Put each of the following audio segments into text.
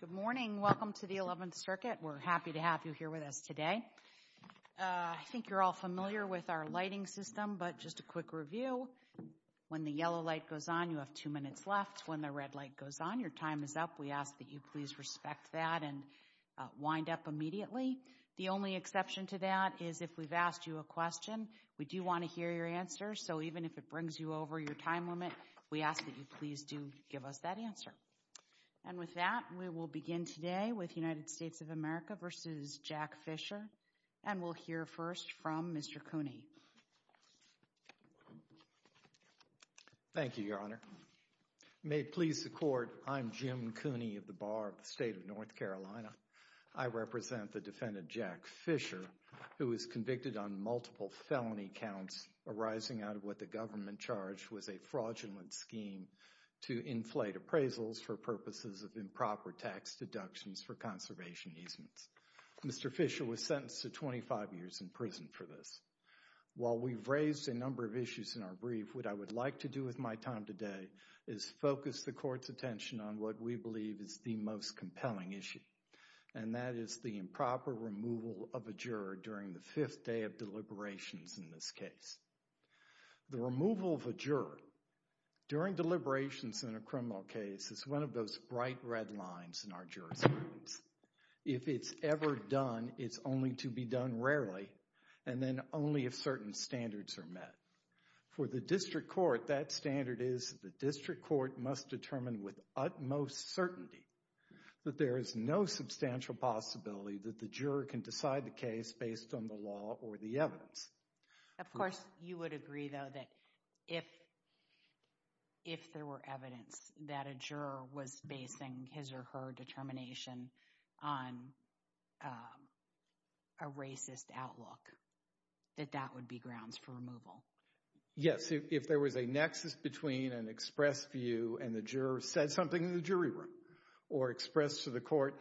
Good morning, welcome to the 11th circuit. We're happy to have you here with us today. I think you're all familiar with our lighting system, but just a quick review. When the yellow light goes on, you have two minutes left. When the red light goes on, your time is up. We ask that you please respect that and wind up immediately. The only exception to that is if we've asked you a question, we do want to hear your answer. So even if it brings you over your time limit, we ask that you please do give us that answer. And with that, we will begin today with United States of America v. Jack Fisher. And we'll hear first from Mr. Cooney. Thank you, Your Honor. May it please the Court, I'm Jim Cooney of the Bar of the State of North Carolina. I represent the defendant, Jack Fisher, who is convicted on multiple felony counts arising out of what the government charged was a fraudulent scheme to inflate appraisals for purposes of improper tax deductions for conservation easements. Mr. Fisher was sentenced to 25 years in prison for this. While we've raised a number of issues in our brief, what I would like to do with my time today is focus the Court's attention on what we believe is the most compelling issue. And that is the improper removal of a juror during the fifth day of deliberations in this case. The removal of a juror during deliberations in a criminal case is one of those bright red lines in our jurisprudence. If it's ever done, it's only to be done rarely, and then only if certain standards are met. For the District Court, that standard is the District Court must determine with utmost certainty that there is no substantial possibility that the juror can decide the case based on the law or the evidence. Of course, you would agree, though, that if there were evidence that a juror was basing his or her determination on a racist outlook, that that would be grounds for removal. Yes. If there was a nexus between an express view and the juror said something in the jury room or expressed to the Court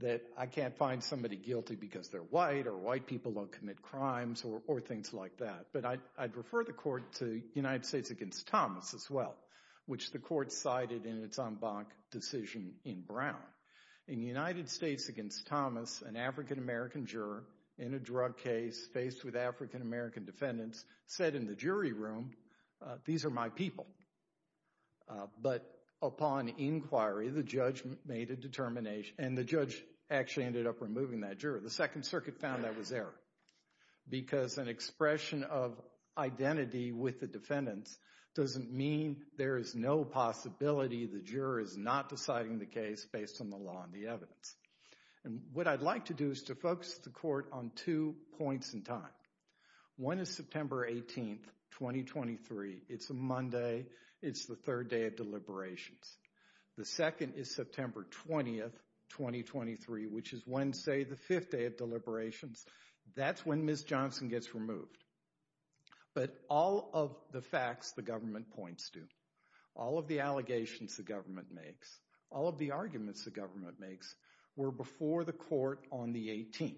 that I can't find somebody guilty because they're white or white people don't commit crimes or things like that, but I'd refer the Court to United States Against Thomas as well, which the Court cited in its en banc decision in Brown. In United States Against Thomas, an African-American juror in a drug case faced with African-American defendants said in the jury room, these are my people. But upon inquiry, the judge made a determination, and the judge actually ended up removing that The Second Circuit found that was error because an expression of identity with the defendants doesn't mean there is no possibility the juror is not deciding the case based on the law and the evidence. What I'd like to do is to focus the Court on two points in time. One is September 18th, 2023. It's a Monday. It's the third day of deliberations. The second is September 20th, 2023, which is Wednesday, the fifth day of deliberations. That's when Ms. Johnson gets removed. But all of the facts the government points to, all of the allegations the government makes, all of the arguments the government makes were before the Court on the 18th.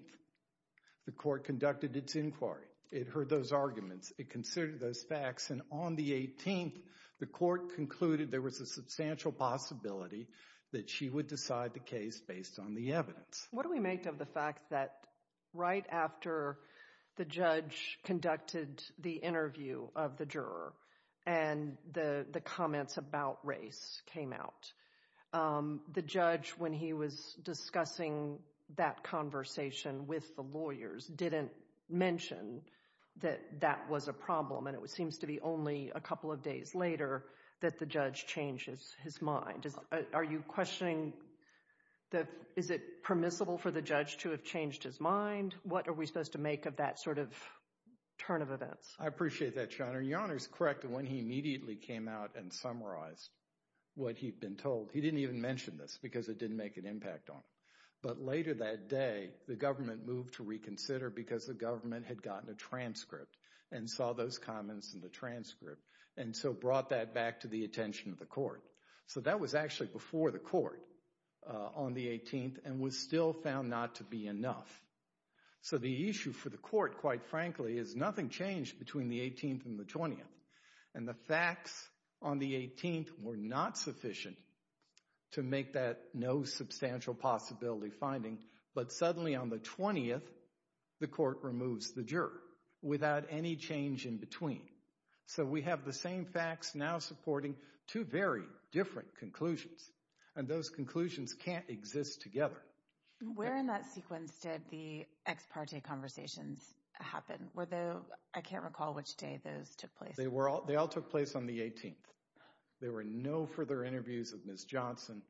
The Court conducted its inquiry. It heard those arguments. It considered those facts, and on the 18th, the Court concluded there was a substantial possibility that she would decide the case based on the evidence. What do we make of the fact that right after the judge conducted the interview of the juror and the comments about race came out, the judge, when he was discussing that conversation with the lawyers, didn't mention that that was a problem, and it seems to be only a couple of days later that the judge changes his mind? Are you questioning, is it permissible for the judge to have changed his mind? What are we supposed to make of that sort of turn of events? I appreciate that, Your Honor. Your Honor's correct when he immediately came out and summarized what he'd been told. He didn't even mention this because it didn't make an impact on him. But later that day, the government moved to reconsider because the government had gotten a transcript and saw those comments in the transcript, and so brought that back to the attention of the Court. So that was actually before the Court on the 18th and was still found not to be enough. So the issue for the Court, quite frankly, is nothing changed between the 18th and the 20th. And the facts on the 18th were not sufficient to make that no substantial possibility finding, but suddenly on the 20th, the Court removes the juror without any change in between. So we have the same facts now supporting two very different conclusions, and those conclusions can't exist together. Where in that sequence did the ex parte conversations happen? Were they, I can't recall which day those took place. They were all, they all took place on the 18th. There were no further interviews of Ms. Johnson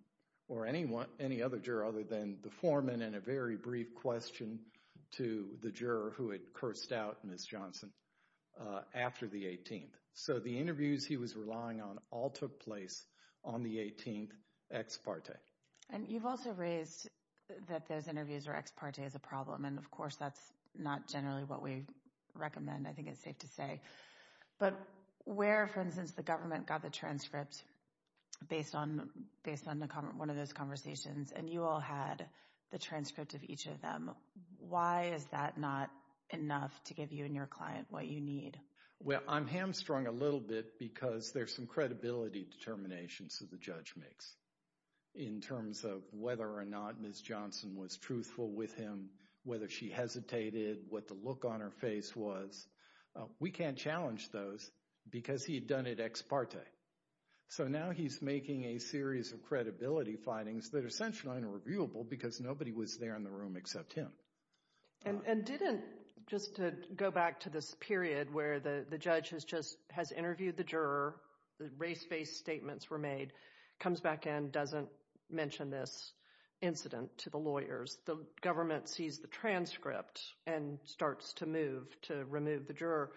or anyone, any other juror other than the foreman and a very brief question to the juror who had cursed out Ms. Johnson after the 18th. So the interviews he was relying on all took place on the 18th ex parte. And you've also raised that those interviews are ex parte as a problem, and of course that's not generally what we recommend, I think it's safe to say. But where, for instance, the government got the transcript based on one of those conversations, and you all had the transcript of each of them, why is that not enough to give you and your client what you need? Well, I'm hamstrung a little bit because there's some credibility determinations that the judge makes in terms of whether or not Ms. Johnson was truthful with him, whether she hesitated, what the look on her face was. We can't challenge those because he had done it ex parte. So now he's making a series of credibility findings that are essentially unreviewable because nobody was there in the room except him. And didn't, just to go back to this period where the judge has just, has interviewed the juror, the race-based statements were made, comes back in, doesn't mention this incident to the lawyers. The government sees the transcript and starts to move to remove the juror.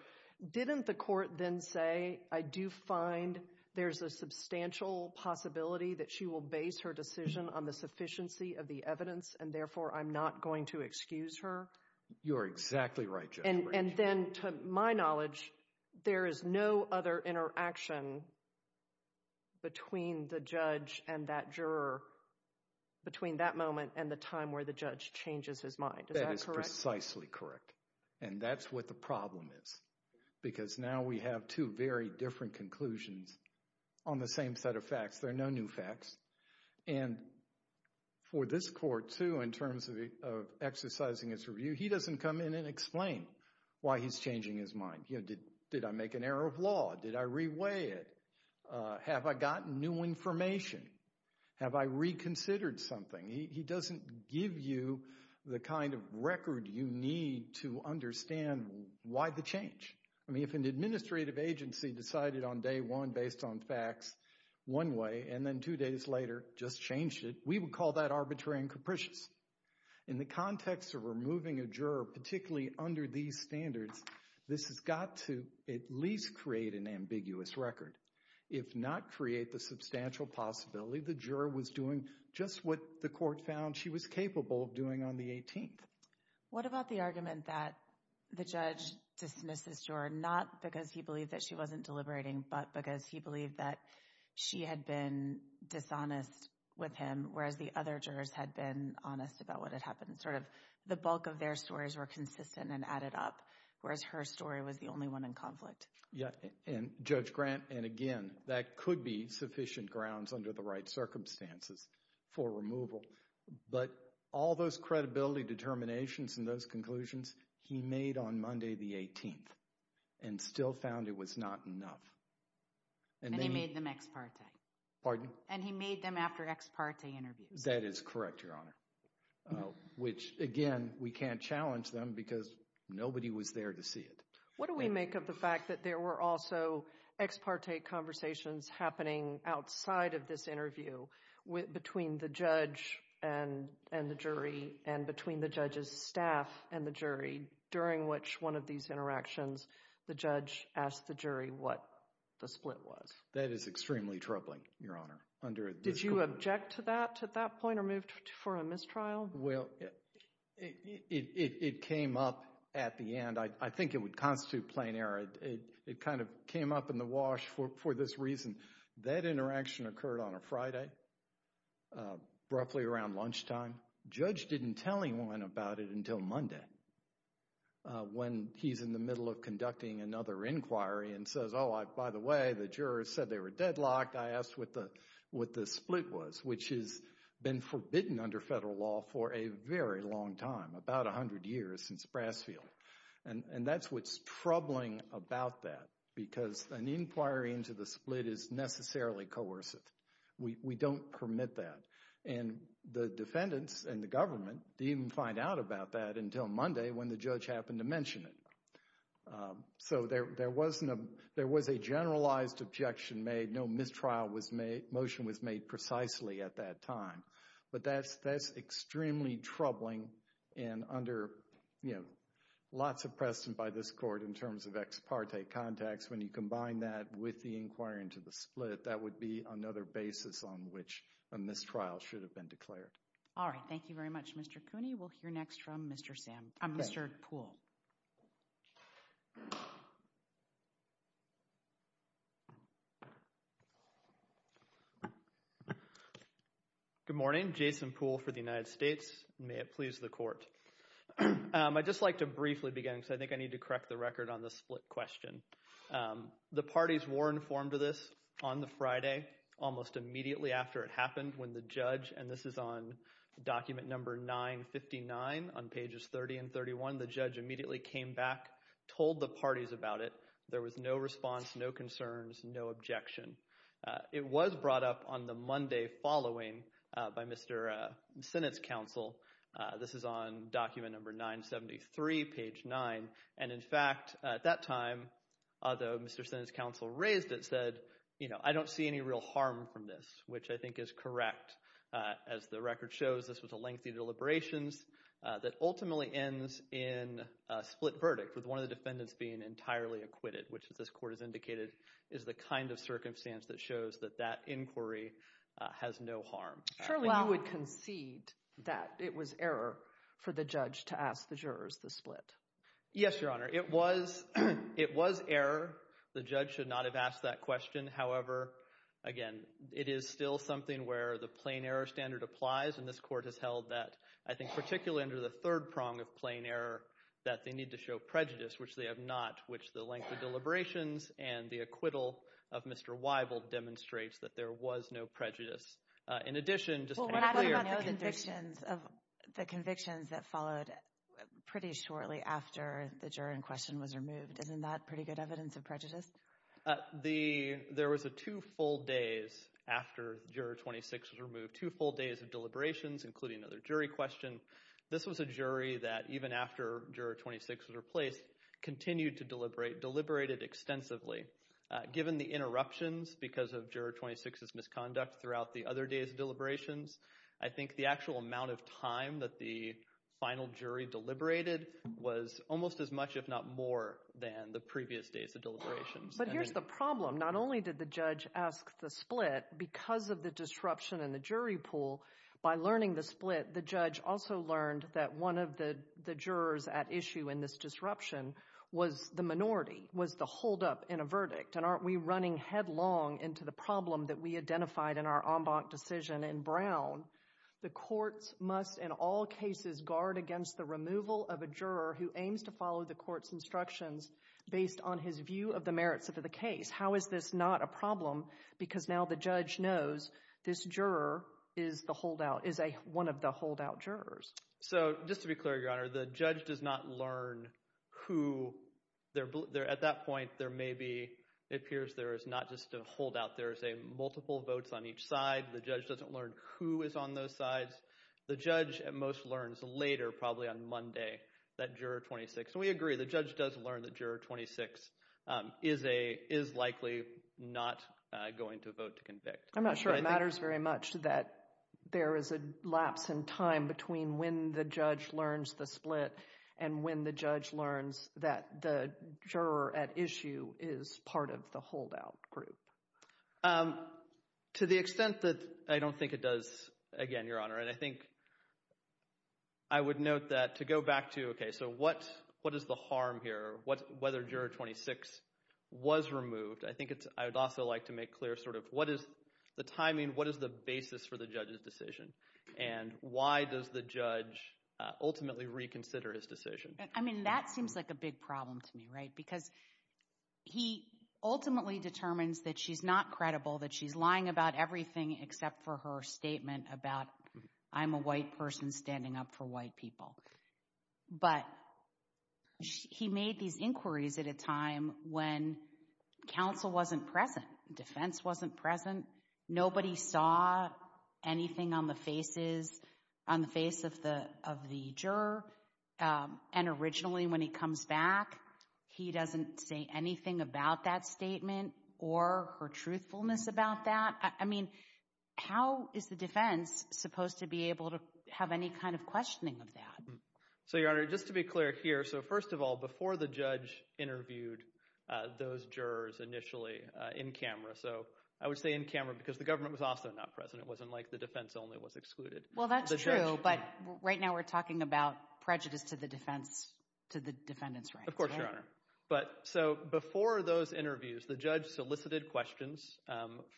Didn't the court then say, I do find there's a substantial possibility that she will base her decision on the sufficiency of the evidence, and therefore I'm not going to excuse her? You're exactly right, Jennifer. And then, to my knowledge, there is no other interaction between the judge and that juror, between that moment and the time where the judge changes his mind. Is that correct? That is precisely correct. And that's what the problem is. Because now we have two very different conclusions on the same set of facts. There are no new facts. And for this court, too, in terms of exercising his review, he doesn't come in and explain why he's changing his mind. Did I make an error of law? Did I re-weigh it? Have I gotten new information? Have I reconsidered something? He doesn't give you the kind of record you need to understand why the change. I mean, if an administrative agency decided on day one based on facts one way, and then two days later just changed it, we would call that arbitrary and capricious. In the context of removing a juror, particularly under these standards, this has got to at least create an ambiguous record, if not create the substantial possibility the juror was doing just what the court found she was capable of doing on the 18th. What about the argument that the judge dismissed this juror not because he believed that she wasn't deliberating, but because he believed that she had been dishonest with him, whereas the other jurors had been honest about what had happened? Sort of the bulk of their stories were consistent and added up, whereas her story was the only one in conflict. Yeah. And Judge Grant, and again, that could be sufficient grounds under the right circumstances for removal. But all those credibility determinations and those conclusions he made on Monday the 18th and still found it was not enough. And he made them ex parte. Pardon? And he made them after ex parte interviews. That is correct, Your Honor. Which again, we can't challenge them because nobody was there to see it. What do we make of the fact that there were also ex parte conversations happening outside of this interview between the judge and the jury, and between the judge's staff and the jury, during which one of these interactions, the judge asked the jury what the split was? That is extremely troubling, Your Honor. Did you object to that at that point or moved for a mistrial? Well, it came up at the end. I think it would constitute plain error. It kind of came up in the wash for this reason. That interaction occurred on a Friday, roughly around lunchtime. Judge didn't tell anyone about it until Monday, when he's in the middle of conducting another inquiry and says, oh, by the way, the jurors said they were deadlocked. I asked what the split was, which has been forbidden under federal law for a very long time, about 100 years since Brasfield. And that's what's troubling about that, because an inquiry into the split is necessarily coercive. We don't permit that. And the defendants and the government didn't even find out about that until Monday, when the judge happened to mention it. So there was a generalized objection made. No mistrial motion was made precisely at that time. But that's extremely troubling, and under lots of precedent by this court in terms of ex parte contacts, when you combine that with the inquiry into the split, that would be another basis on which a mistrial should have been declared. All right. Thank you very much, Mr. Cooney. We'll hear next from Mr. Sam, Mr. Poole. Good morning. Jason Poole for the United States. May it please the court. I'd just like to briefly begin, because I think I need to correct the record on the split question. The parties were informed of this on the Friday, almost immediately after it happened, when the judge, and this is on document number 959 on pages 30 and 31, the judge immediately came back, told the parties about it. There was no response, no concerns, no objection. It was brought up on the Monday following by Mr. Sinnott's counsel. This is on document number 973, page 9. In fact, at that time, although Mr. Sinnott's counsel raised it, said, you know, I don't see any real harm from this, which I think is correct. As the record shows, this was a lengthy deliberations that ultimately ends in a split verdict with one of the defendants being entirely acquitted, which, as this court has indicated, is the kind of circumstance that shows that that inquiry has no harm. So you would concede that it was error for the judge to ask the jurors the split? Yes, Your Honor. It was error. The judge should not have asked that question. However, again, it is still something where the plain error standard applies, and this court has held that, I think particularly under the third prong of plain error, that they need to show prejudice, which they have not, which the lengthy deliberations and the acquittal of Mr. Weibold demonstrates that there was no prejudice. In addition, just to be clear— —of the convictions that followed pretty shortly after the juror in question was removed. Isn't that pretty good evidence of prejudice? There was a two-fold days after Juror 26 was removed, two-fold days of deliberations, including another jury question. This was a jury that, even after Juror 26 was replaced, continued to deliberate, deliberated extensively. Given the interruptions because of Juror 26's misconduct throughout the other days of deliberations, I think the actual amount of time that the final jury deliberated was almost as much, if not more, than the previous days of deliberations. But here's the problem. Not only did the judge ask the split, because of the disruption in the jury pool, by learning the split, the judge also learned that one of the jurors at issue in this disruption was the minority, was the holdup in a verdict. And aren't we running headlong into the problem that we identified in our en banc decision in Brown, the courts must, in all cases, guard against the removal of a juror who aims to follow the court's instructions based on his view of the merits of the case. How is this not a problem? Because now the judge knows this juror is the holdout, is one of the holdout jurors. So just to be clear, Your Honor, the judge does not learn who, at that point, there may be, it appears there is not just a holdout, there is a multiple votes on each side. The judge doesn't learn who is on those sides. The judge, at most, learns later, probably on Monday, that juror 26, and we agree, the judge does learn that juror 26 is likely not going to vote to convict. I'm not sure it matters very much that there is a lapse in time between when the judge learns the split and when the judge learns that the juror at issue is part of the holdout group. To the extent that I don't think it does, again, Your Honor, and I think I would note that to go back to, okay, so what is the harm here? Whether juror 26 was removed, I think it's, I would also like to make clear sort of what is the timing, what is the basis for the judge's decision? And why does the judge ultimately reconsider his decision? I mean, that seems like a big problem to me, right? Because he ultimately determines that she's not credible, that she's lying about everything except for her statement about, I'm a white person standing up for white people. But he made these inquiries at a time when counsel wasn't present, defense wasn't present, nobody saw anything on the faces, on the face of the juror, and originally when he comes back, he doesn't say anything about that statement or her truthfulness about that. I mean, how is the defense supposed to be able to have any kind of questioning of that? So Your Honor, just to be clear here, so first of all, before the judge interviewed those jurors initially in camera, so I would say in camera because the government was also not present, it wasn't like the defense only was excluded. Well that's true, but right now we're talking about prejudice to the defense, to the defendant's right. Of course, Your Honor. But, so before those interviews, the judge solicited questions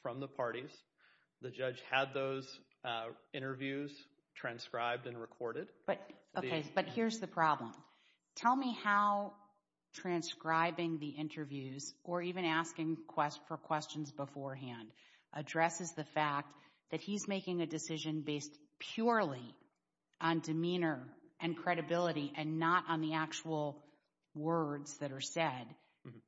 from the parties. The judge had those interviews transcribed and recorded. But here's the problem. Tell me how transcribing the interviews or even asking for questions beforehand addresses the fact that he's making a decision based purely on demeanor and credibility and not on the actual words that are said,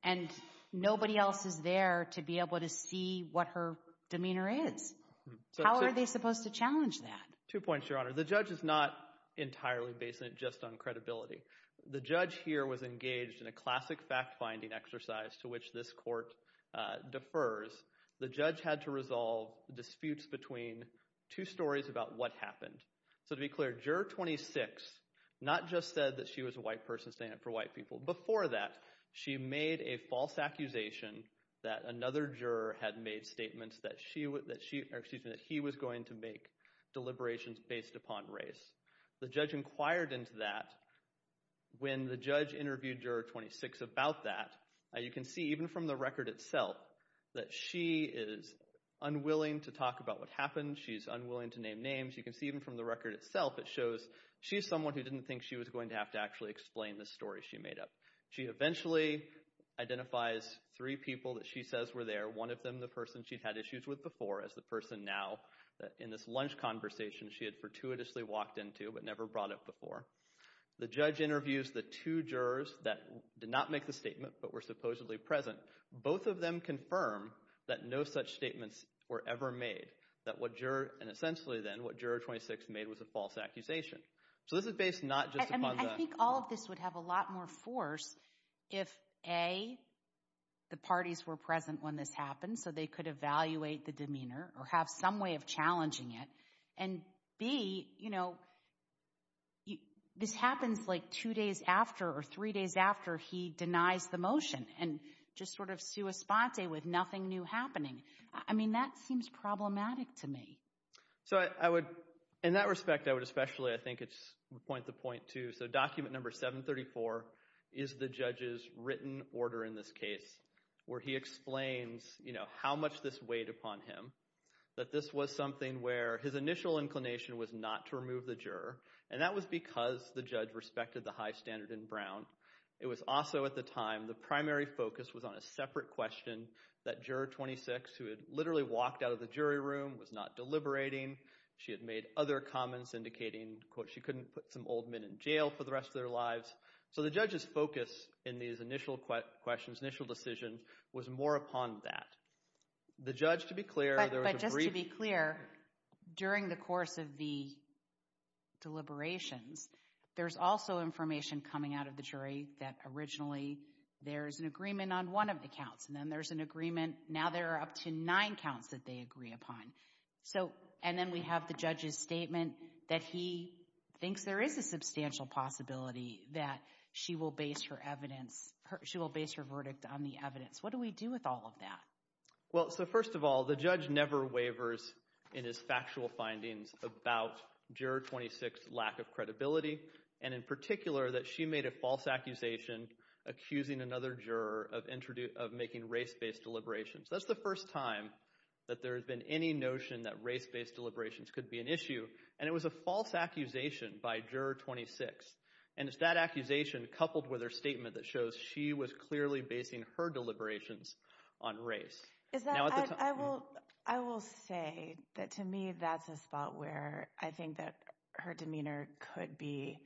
and nobody else is there to be able to see what her demeanor is. How are they supposed to challenge that? Two points, Your Honor. The judge is not entirely based just on credibility. The judge here was engaged in a classic fact-finding exercise to which this court defers. The judge had to resolve disputes between two stories about what happened. So to be clear, Juror 26 not just said that she was a white person standing up for white people. Before that, she made a false accusation that another juror had made statements that he was going to make deliberations based upon race. The judge inquired into that. When the judge interviewed Juror 26 about that, you can see even from the record itself that she is unwilling to talk about what happened. She's unwilling to name names. You can see even from the record itself, it shows she's someone who didn't think she was going to have to actually explain the story she made up. She eventually identifies three people that she says were there, one of them the person she'd had issues with before as the person now in this lunch conversation she had fortuitously walked into but never brought up before. The judge interviews the two jurors that did not make the statement but were supposedly present. Both of them confirm that no such statements were ever made. That what Juror, and essentially then, what Juror 26 made was a false accusation. So this is based not just upon the- I mean, I think all of this would have a lot more force if A, the parties were present when this happened so they could evaluate the demeanor or have some way of challenging it. And B, you know, this happens like two days after or three days after he denies the motion and just sort of sua sponte with nothing new happening. I mean, that seems problematic to me. So I would, in that respect, I would especially, I think it's point to point too. So document number 734 is the judge's written order in this case where he explains, you know, how much this weighed upon him. That this was something where his initial inclination was not to remove the juror and that was because the judge respected the high standard in Brown. It was also, at the time, the primary focus was on a separate question that Juror 26, who had literally walked out of the jury room, was not deliberating. She had made other comments indicating, quote, she couldn't put some old men in jail for the rest of their lives. So the judge's focus in these initial questions, initial decisions, was more upon that. The judge, to be clear- But just to be clear, during the course of the deliberations, there's also information coming out of the jury that originally there's an agreement on one of the counts. And then there's an agreement, now there are up to nine counts that they agree upon. And then we have the judge's statement that he thinks there is a substantial possibility that she will base her evidence, she will base her verdict on the evidence. What do we do with all of that? Well, so first of all, the judge never wavers in his factual findings about Juror 26's lack of credibility, and in particular that she made a false accusation accusing another juror of making race-based deliberations. That's the first time that there's been any notion that race-based deliberations could be an issue, and it was a false accusation by Juror 26. And it's that accusation coupled with her statement that shows she was clearly basing her deliberations on race. I will say that to me that's a spot where I think that her demeanor could be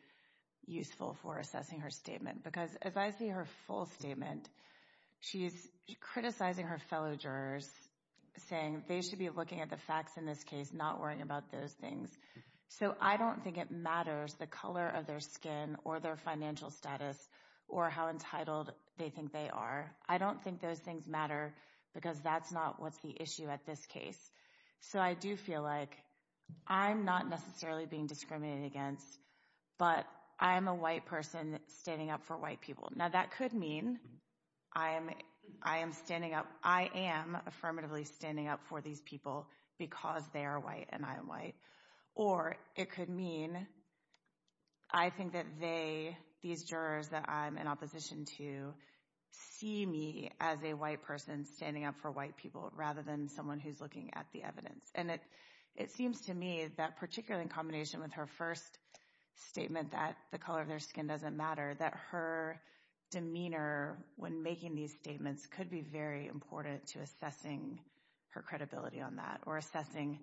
useful for assessing her statement, because as I see her full statement, she's criticizing her fellow jurors, saying they should be looking at the facts in this case, not worrying about those things. So I don't think it matters the color of their skin or their financial status or how entitled they think they are. I don't think those things matter because that's not what's the issue at this case. So I do feel like I'm not necessarily being discriminated against, but I am a white person standing up for white people. Now that could mean I am standing up, I am affirmatively standing up for these people because they are white and I am white. Or it could mean I think that they, these jurors that I'm in opposition to, see me as a white person standing up for white people rather than someone who's looking at the evidence. And it seems to me that particularly in combination with her first statement that the color of their skin doesn't matter, that her demeanor when making these statements could be very important to assessing her credibility on that or assessing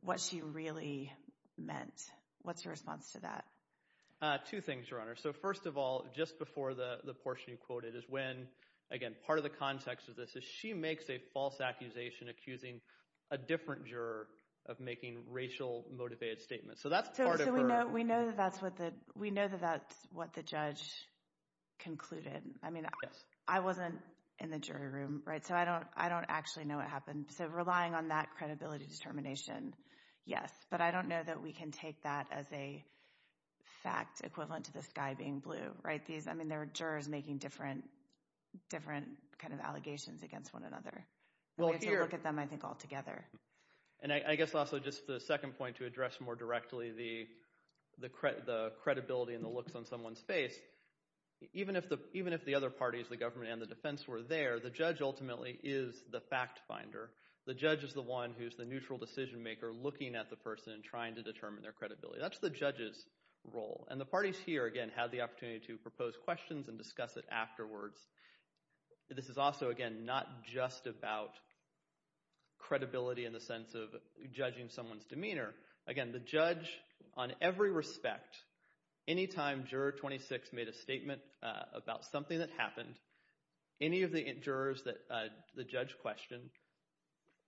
what she really meant. What's your response to that? Two things, Your Honor. So first of all, just before the portion you quoted is when, again, part of the context of this is she makes a false accusation accusing a different juror of making racial motivated statements. So that's part of her... So we know that that's what the judge concluded. I mean, I wasn't in the jury room, right? So I don't actually know what happened. So relying on that credibility determination, yes. But I don't know that we can take that as a fact equivalent to the sky being blue, right? These, I mean, there are jurors making different kind of allegations against one another. We have to look at them, I think, all together. And I guess also just the second point to address more directly the credibility and the looks on someone's face, even if the other parties, the government and the defense, were there, the judge ultimately is the fact finder. The judge is the one who's the neutral decision maker looking at the person and trying to determine their credibility. That's the judge's role. And the parties here, again, had the opportunity to propose questions and discuss it afterwards. This is also, again, not just about credibility in the sense of judging someone's demeanor. Again, the judge on every respect, any time Juror 26 made a statement about something that happened, any of the jurors that the judge questioned,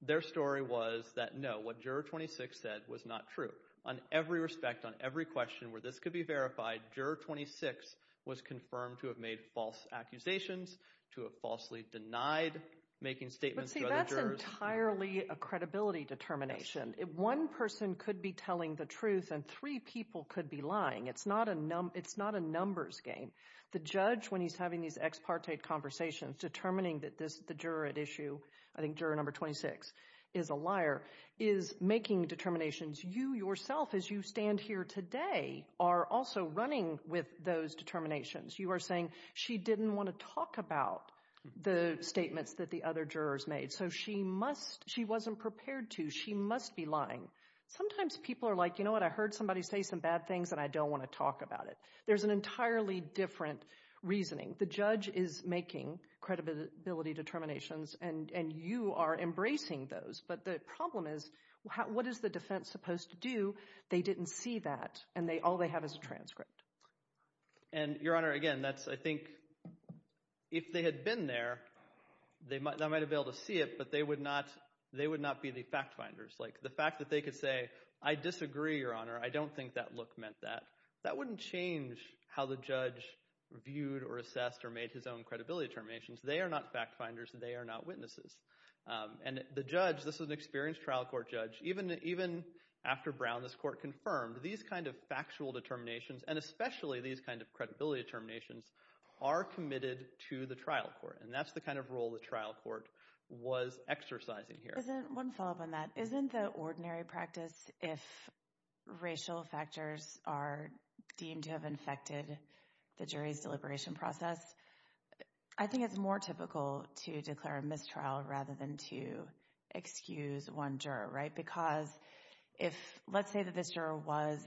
their story was that, no, what Juror 26 said was not true. On every respect, on every question where this could be verified, Juror 26 was confirmed to have made false accusations, to have falsely denied making statements to other jurors. But see, that's entirely a credibility determination. One person could be telling the truth and three people could be lying. It's not a numbers game. The judge, when he's having these ex parte conversations, determining that this, the juror at issue, I think Juror 26 is a liar, is making determinations. You yourself, as you stand here today, are also running with those determinations. You are saying, she didn't want to talk about the statements that the other jurors made. So she must, she wasn't prepared to, she must be lying. Sometimes people are like, you know what, I heard somebody say some bad things and I don't want to talk about it. There's an entirely different reasoning. The judge is making credibility determinations and you are embracing those. But the problem is, what is the defense supposed to do? They didn't see that and all they have is a transcript. And Your Honor, again, that's, I think, if they had been there, they might have been able to see it, but they would not be the fact finders. Like the fact that they could say, I disagree, Your Honor, I don't think that look meant that. That wouldn't change how the judge viewed or assessed or made his own credibility determinations. They are not fact finders, they are not witnesses. And the judge, this is an experienced trial court judge, even after Brown, this court confirmed, these kind of factual determinations, and especially these kind of credibility determinations, are committed to the trial court and that's the kind of role the trial court was exercising here. One follow up on that, isn't the ordinary practice, if racial factors are deemed to have infected the jury's deliberation process, I think it's more typical to declare a mistrial rather than to excuse one juror, right? Because if, let's say that this juror was,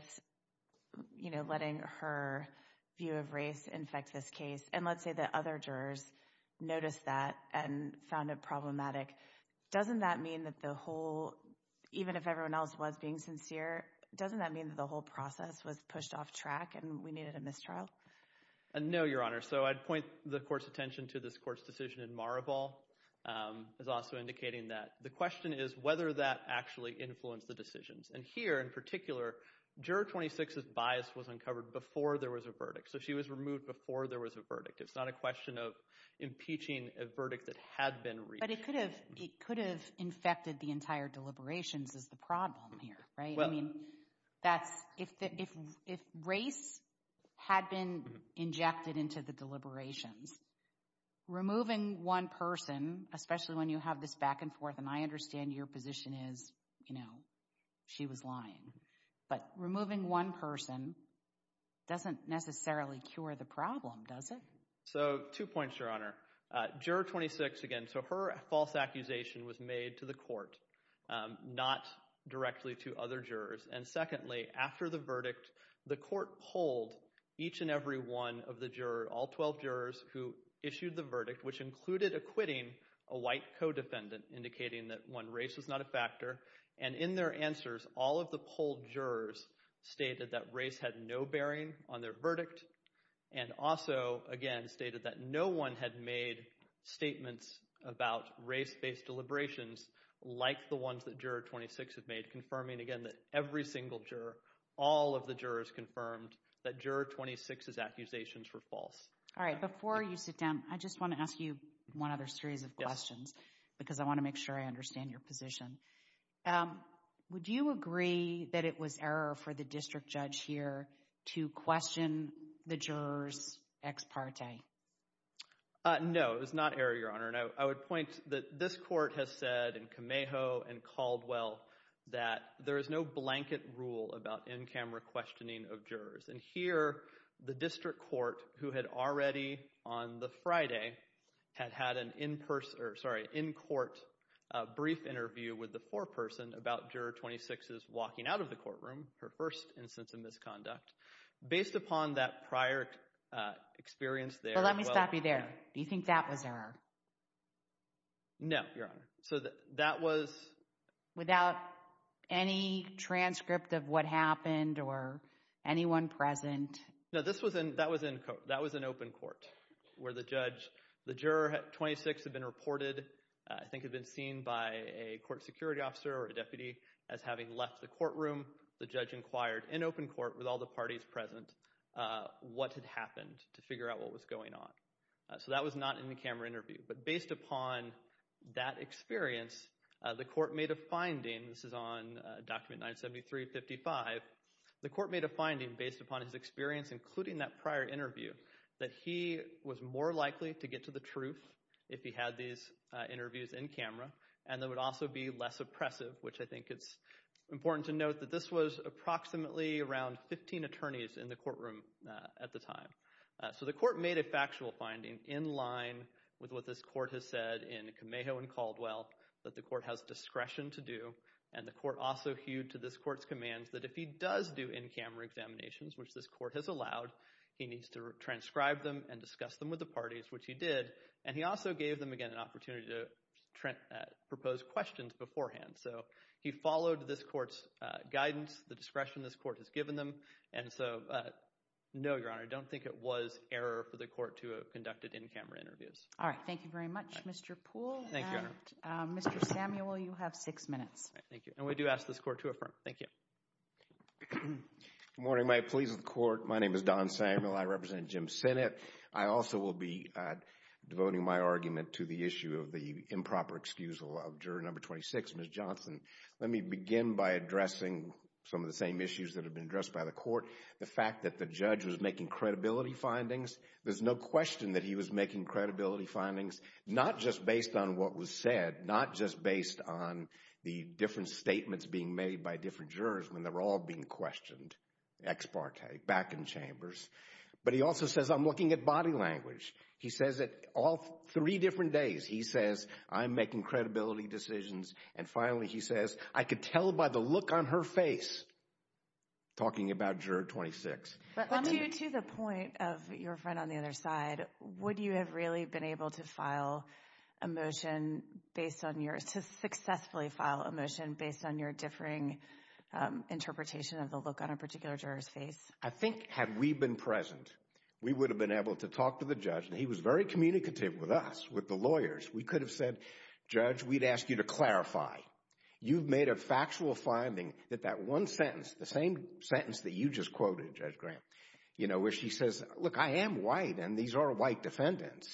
you know, letting her view of race infect this case, and let's say that other jurors noticed that and found it problematic, doesn't that mean that the whole, even if everyone else was being sincere, doesn't that mean that the whole process was pushed off track and we needed a mistrial? No, Your Honor. So I'd point the court's attention to this court's decision in Maraval, is also indicating that the question is whether that actually influenced the decisions. And here, in particular, Juror 26's bias was uncovered before there was a verdict. So she was removed before there was a verdict. It's not a question of impeaching a verdict that had been reached. But it could have, it could have infected the entire deliberations is the problem here, right? I mean, that's, if race had been injected into the deliberations, removing one person, especially when you have this back and forth, and I understand your position is, you know, she was lying, but removing one person doesn't necessarily cure the problem, does it? So two points, Your Honor. Juror 26, again, so her false accusation was made to the court, not directly to other jurors. And secondly, after the verdict, the court polled each and every one of the jurors, all 12 jurors who issued the verdict, which included acquitting a white co-defendant, indicating that one race was not a factor. And in their answers, all of the polled jurors stated that race had no bearing on their verdict, and also, again, stated that no one had made statements about race-based deliberations like the ones that Juror 26 had made, confirming, again, that every single juror, all of the jurors confirmed that Juror 26's accusations were false. All right, before you sit down, I just want to ask you one other series of questions, because I want to make sure I understand your position. Um, would you agree that it was error for the district judge here to question the jurors' Uh, no, it was not error, Your Honor, and I would point that this court has said in Cameo and Caldwell that there is no blanket rule about in-camera questioning of jurors. And here, the district court, who had already, on the Friday, had had an in-person, or sorry, in-court brief interview with the foreperson about Juror 26's walking out of the courtroom, her first instance of misconduct, based upon that prior experience there— Well, let me stop you there. Do you think that was error? No, Your Honor. So that was— Without any transcript of what happened or anyone present? No, this was in—that was in court. Where the judge—the juror 26 had been reported, I think had been seen by a court security officer or a deputy as having left the courtroom. The judge inquired in open court with all the parties present, uh, what had happened to figure out what was going on. So that was not in the camera interview, but based upon that experience, the court made a finding—this is on Document 973-55—the court made a finding based upon his experience, including that prior interview, that he was more likely to get to the truth if he had these interviews in camera, and that it would also be less oppressive, which I think it's important to note that this was approximately around 15 attorneys in the courtroom at the time. So the court made a factual finding in line with what this court has said in Kameho and Caldwell that the court has discretion to do, and the court also hewed to this court's commands that if he does do in-camera examinations, which this court has allowed, he needs to transcribe them and discuss them with the parties, which he did, and he also gave them again an opportunity to propose questions beforehand. So he followed this court's guidance, the discretion this court has given them, and so no, Your Honor, I don't think it was error for the court to have conducted in-camera interviews. All right, thank you very much, Mr. Poole, and Mr. Samuel, you have six minutes. All right, thank you, and we do ask this court to affirm. Thank you. Good morning. May it please the Court. My name is Don Samuel. I represent Jim's Senate. I also will be devoting my argument to the issue of the improper excusal of Juror Number 26, Ms. Johnson. Let me begin by addressing some of the same issues that have been addressed by the court. The fact that the judge was making credibility findings, there's no question that he was making credibility findings, not just based on what was said, not just based on the different statements being made by different jurors when they're all being questioned, ex parte, back in chambers, but he also says, I'm looking at body language. He says it all three different days. He says, I'm making credibility decisions, and finally, he says, I could tell by the look on her face, talking about Juror 26. But to the point of your friend on the other side, would you have really been able to file a motion based on your, to successfully file a motion based on your differing interpretation of the look on a particular juror's face? I think had we been present, we would have been able to talk to the judge, and he was very communicative with us, with the lawyers. We could have said, Judge, we'd ask you to clarify. You've made a factual finding that that one sentence, the same sentence that you just quoted, Judge Graham, where she says, look, I am white, and these are white defendants.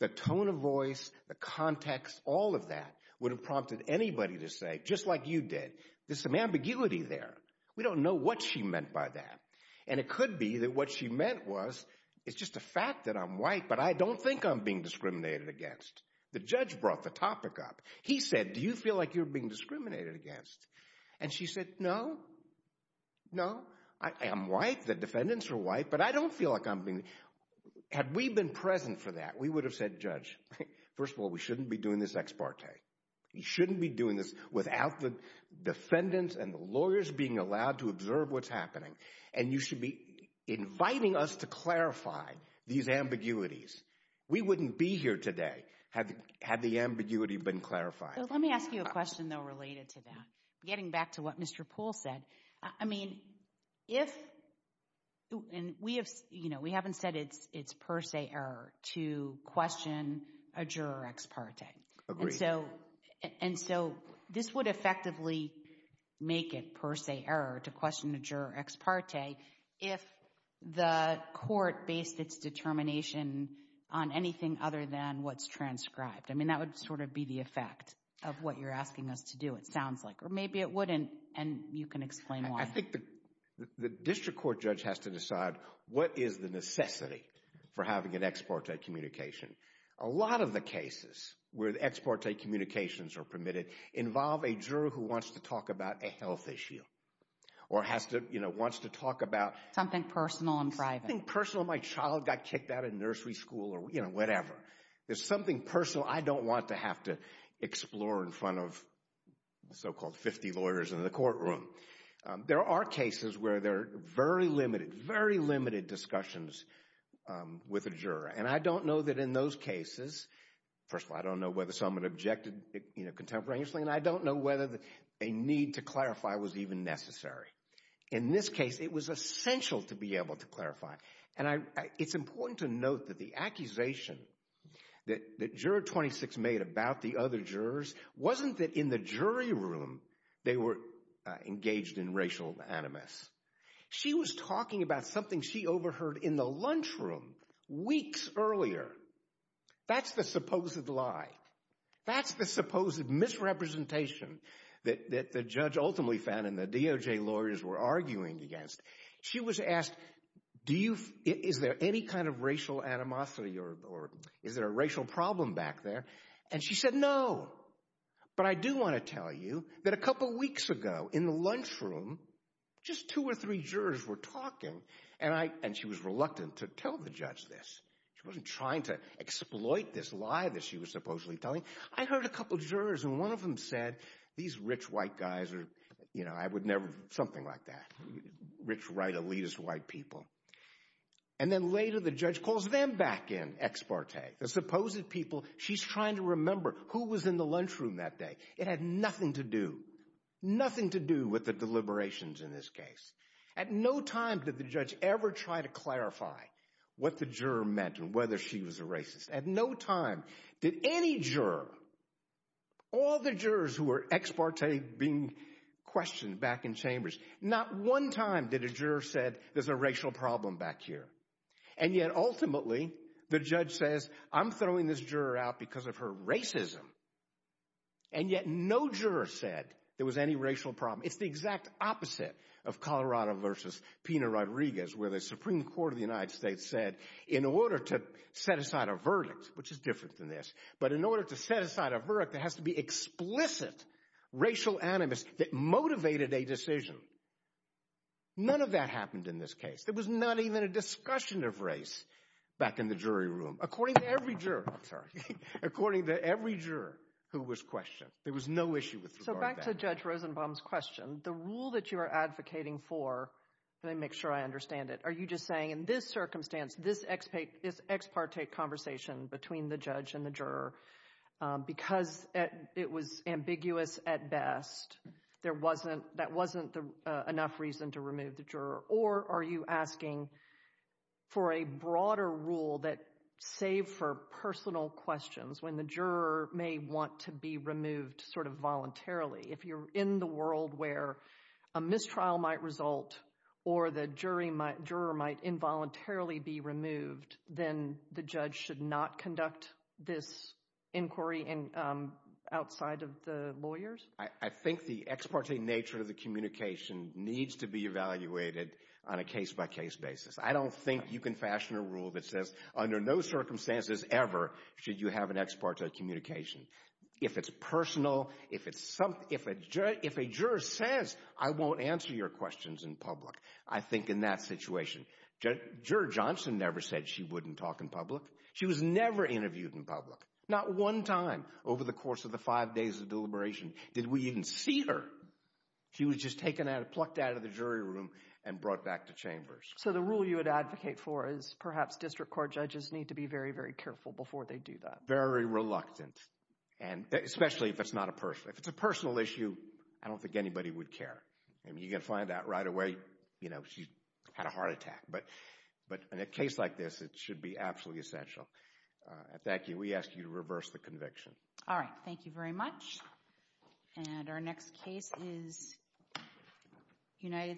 The tone of voice, the context, all of that would have prompted anybody to say, just like you did, there's some ambiguity there. We don't know what she meant by that. And it could be that what she meant was, it's just a fact that I'm white, but I don't think I'm being discriminated against. The judge brought the topic up. He said, do you feel like you're being discriminated against? And she said, no, no. I am white. The defendants are white, but I don't feel like I'm being... Had we been present for that, we would have said, Judge, first of all, we shouldn't be doing this ex parte. You shouldn't be doing this without the defendants and the lawyers being allowed to observe what's happening, and you should be inviting us to clarify these ambiguities. We wouldn't be here today had the ambiguity been clarified. Let me ask you a question, though, related to that, getting back to what Mr. Poole said. I mean, if... And we have, you know, we haven't said it's per se error to question a juror ex parte. Agreed. And so, this would effectively make it per se error to question a juror ex parte if the court based its determination on anything other than what's transcribed. I mean, that would sort of be the effect of what you're asking us to do, it sounds like. Or maybe it wouldn't, and you can explain why. I think the district court judge has to decide what is the necessity for having an ex parte communication. A lot of the cases where the ex parte communications are permitted involve a juror who wants to talk about a health issue or has to, you know, wants to talk about... Something personal and private. Something personal. My child got kicked out of nursery school or, you know, whatever. There's something personal I don't want to have to explore in front of so-called 50 lawyers in the courtroom. There are cases where there are very limited, very limited discussions with a juror. And I don't know that in those cases, first of all, I don't know whether someone objected, you know, contemporaneously, and I don't know whether a need to clarify was even necessary. In this case, it was essential to be able to clarify. And it's important to note that the accusation that Juror 26 made about the other jurors wasn't that in the jury room they were engaged in racial animus. She was talking about something she overheard in the lunchroom weeks earlier. That's the supposed lie. That's the supposed misrepresentation that the judge ultimately found and the DOJ lawyers were arguing against. She was asked, do you, is there any kind of racial animosity or is there a racial problem back there? And she said, no. But I do want to tell you that a couple weeks ago in the lunchroom, just two or three jurors were talking and I, and she was reluctant to tell the judge this. She wasn't trying to exploit this lie that she was supposedly telling. I heard a couple jurors and one of them said, these rich white guys are, you know, I would never, something like that, rich white, elitist white people. And then later the judge calls them back in, ex parte, the supposed people, she's trying to remember who was in the lunchroom that day. It had nothing to do, nothing to do with the deliberations in this case. At no time did the judge ever try to clarify what the juror meant and whether she was a racist. At no time did any juror, all the jurors who were ex parte being questioned back in chambers, not one time did a juror said there's a racial problem back here. And yet ultimately, the judge says, I'm throwing this juror out because of her racism. And yet no juror said there was any racial problem. It's the exact opposite of Colorado versus Pina Rodriguez, where the Supreme Court of the United States said, in order to set aside a verdict, which is different than this, but in order to set aside a verdict, there has to be explicit racial animus that motivated a decision. None of that happened in this case. There was not even a discussion of race back in the jury room. According to every juror, I'm sorry, according to every juror who was questioned, there was no issue with regard to that. So back to Judge Rosenbaum's question, the rule that you are advocating for, let me make sure I understand it. Are you just saying in this circumstance, this ex parte conversation between the judge and the juror, because it was ambiguous at best, that wasn't enough reason to remove the juror? Or are you asking for a broader rule that, save for personal questions, when the juror may want to be removed sort of voluntarily, if you're in the world where a mistrial might result, or the juror might involuntarily be removed, then the judge should not conduct this inquiry outside of the lawyers? I think the ex parte nature of the communication needs to be evaluated on a case-by-case basis. I don't think you can fashion a rule that says, under no circumstances ever should you have an ex parte communication. If it's personal, if a juror says, I won't answer your questions in public, I think in that situation, Juror Johnson never said she wouldn't talk in public. She was never interviewed in public. Not one time over the course of the five days of deliberation did we even see her. She was just plucked out of the jury room and brought back to chambers. So the rule you would advocate for is perhaps district court judges need to be very, very careful before they do that. Very reluctant, and especially if it's not a personal, if it's a personal issue, I don't think anybody would care. I mean, you're going to find out right away, you know, she had a heart attack. But in a case like this, it should be absolutely essential. Thank you. We ask you to reverse the conviction. All right. Thank you very much. And our next case is United States.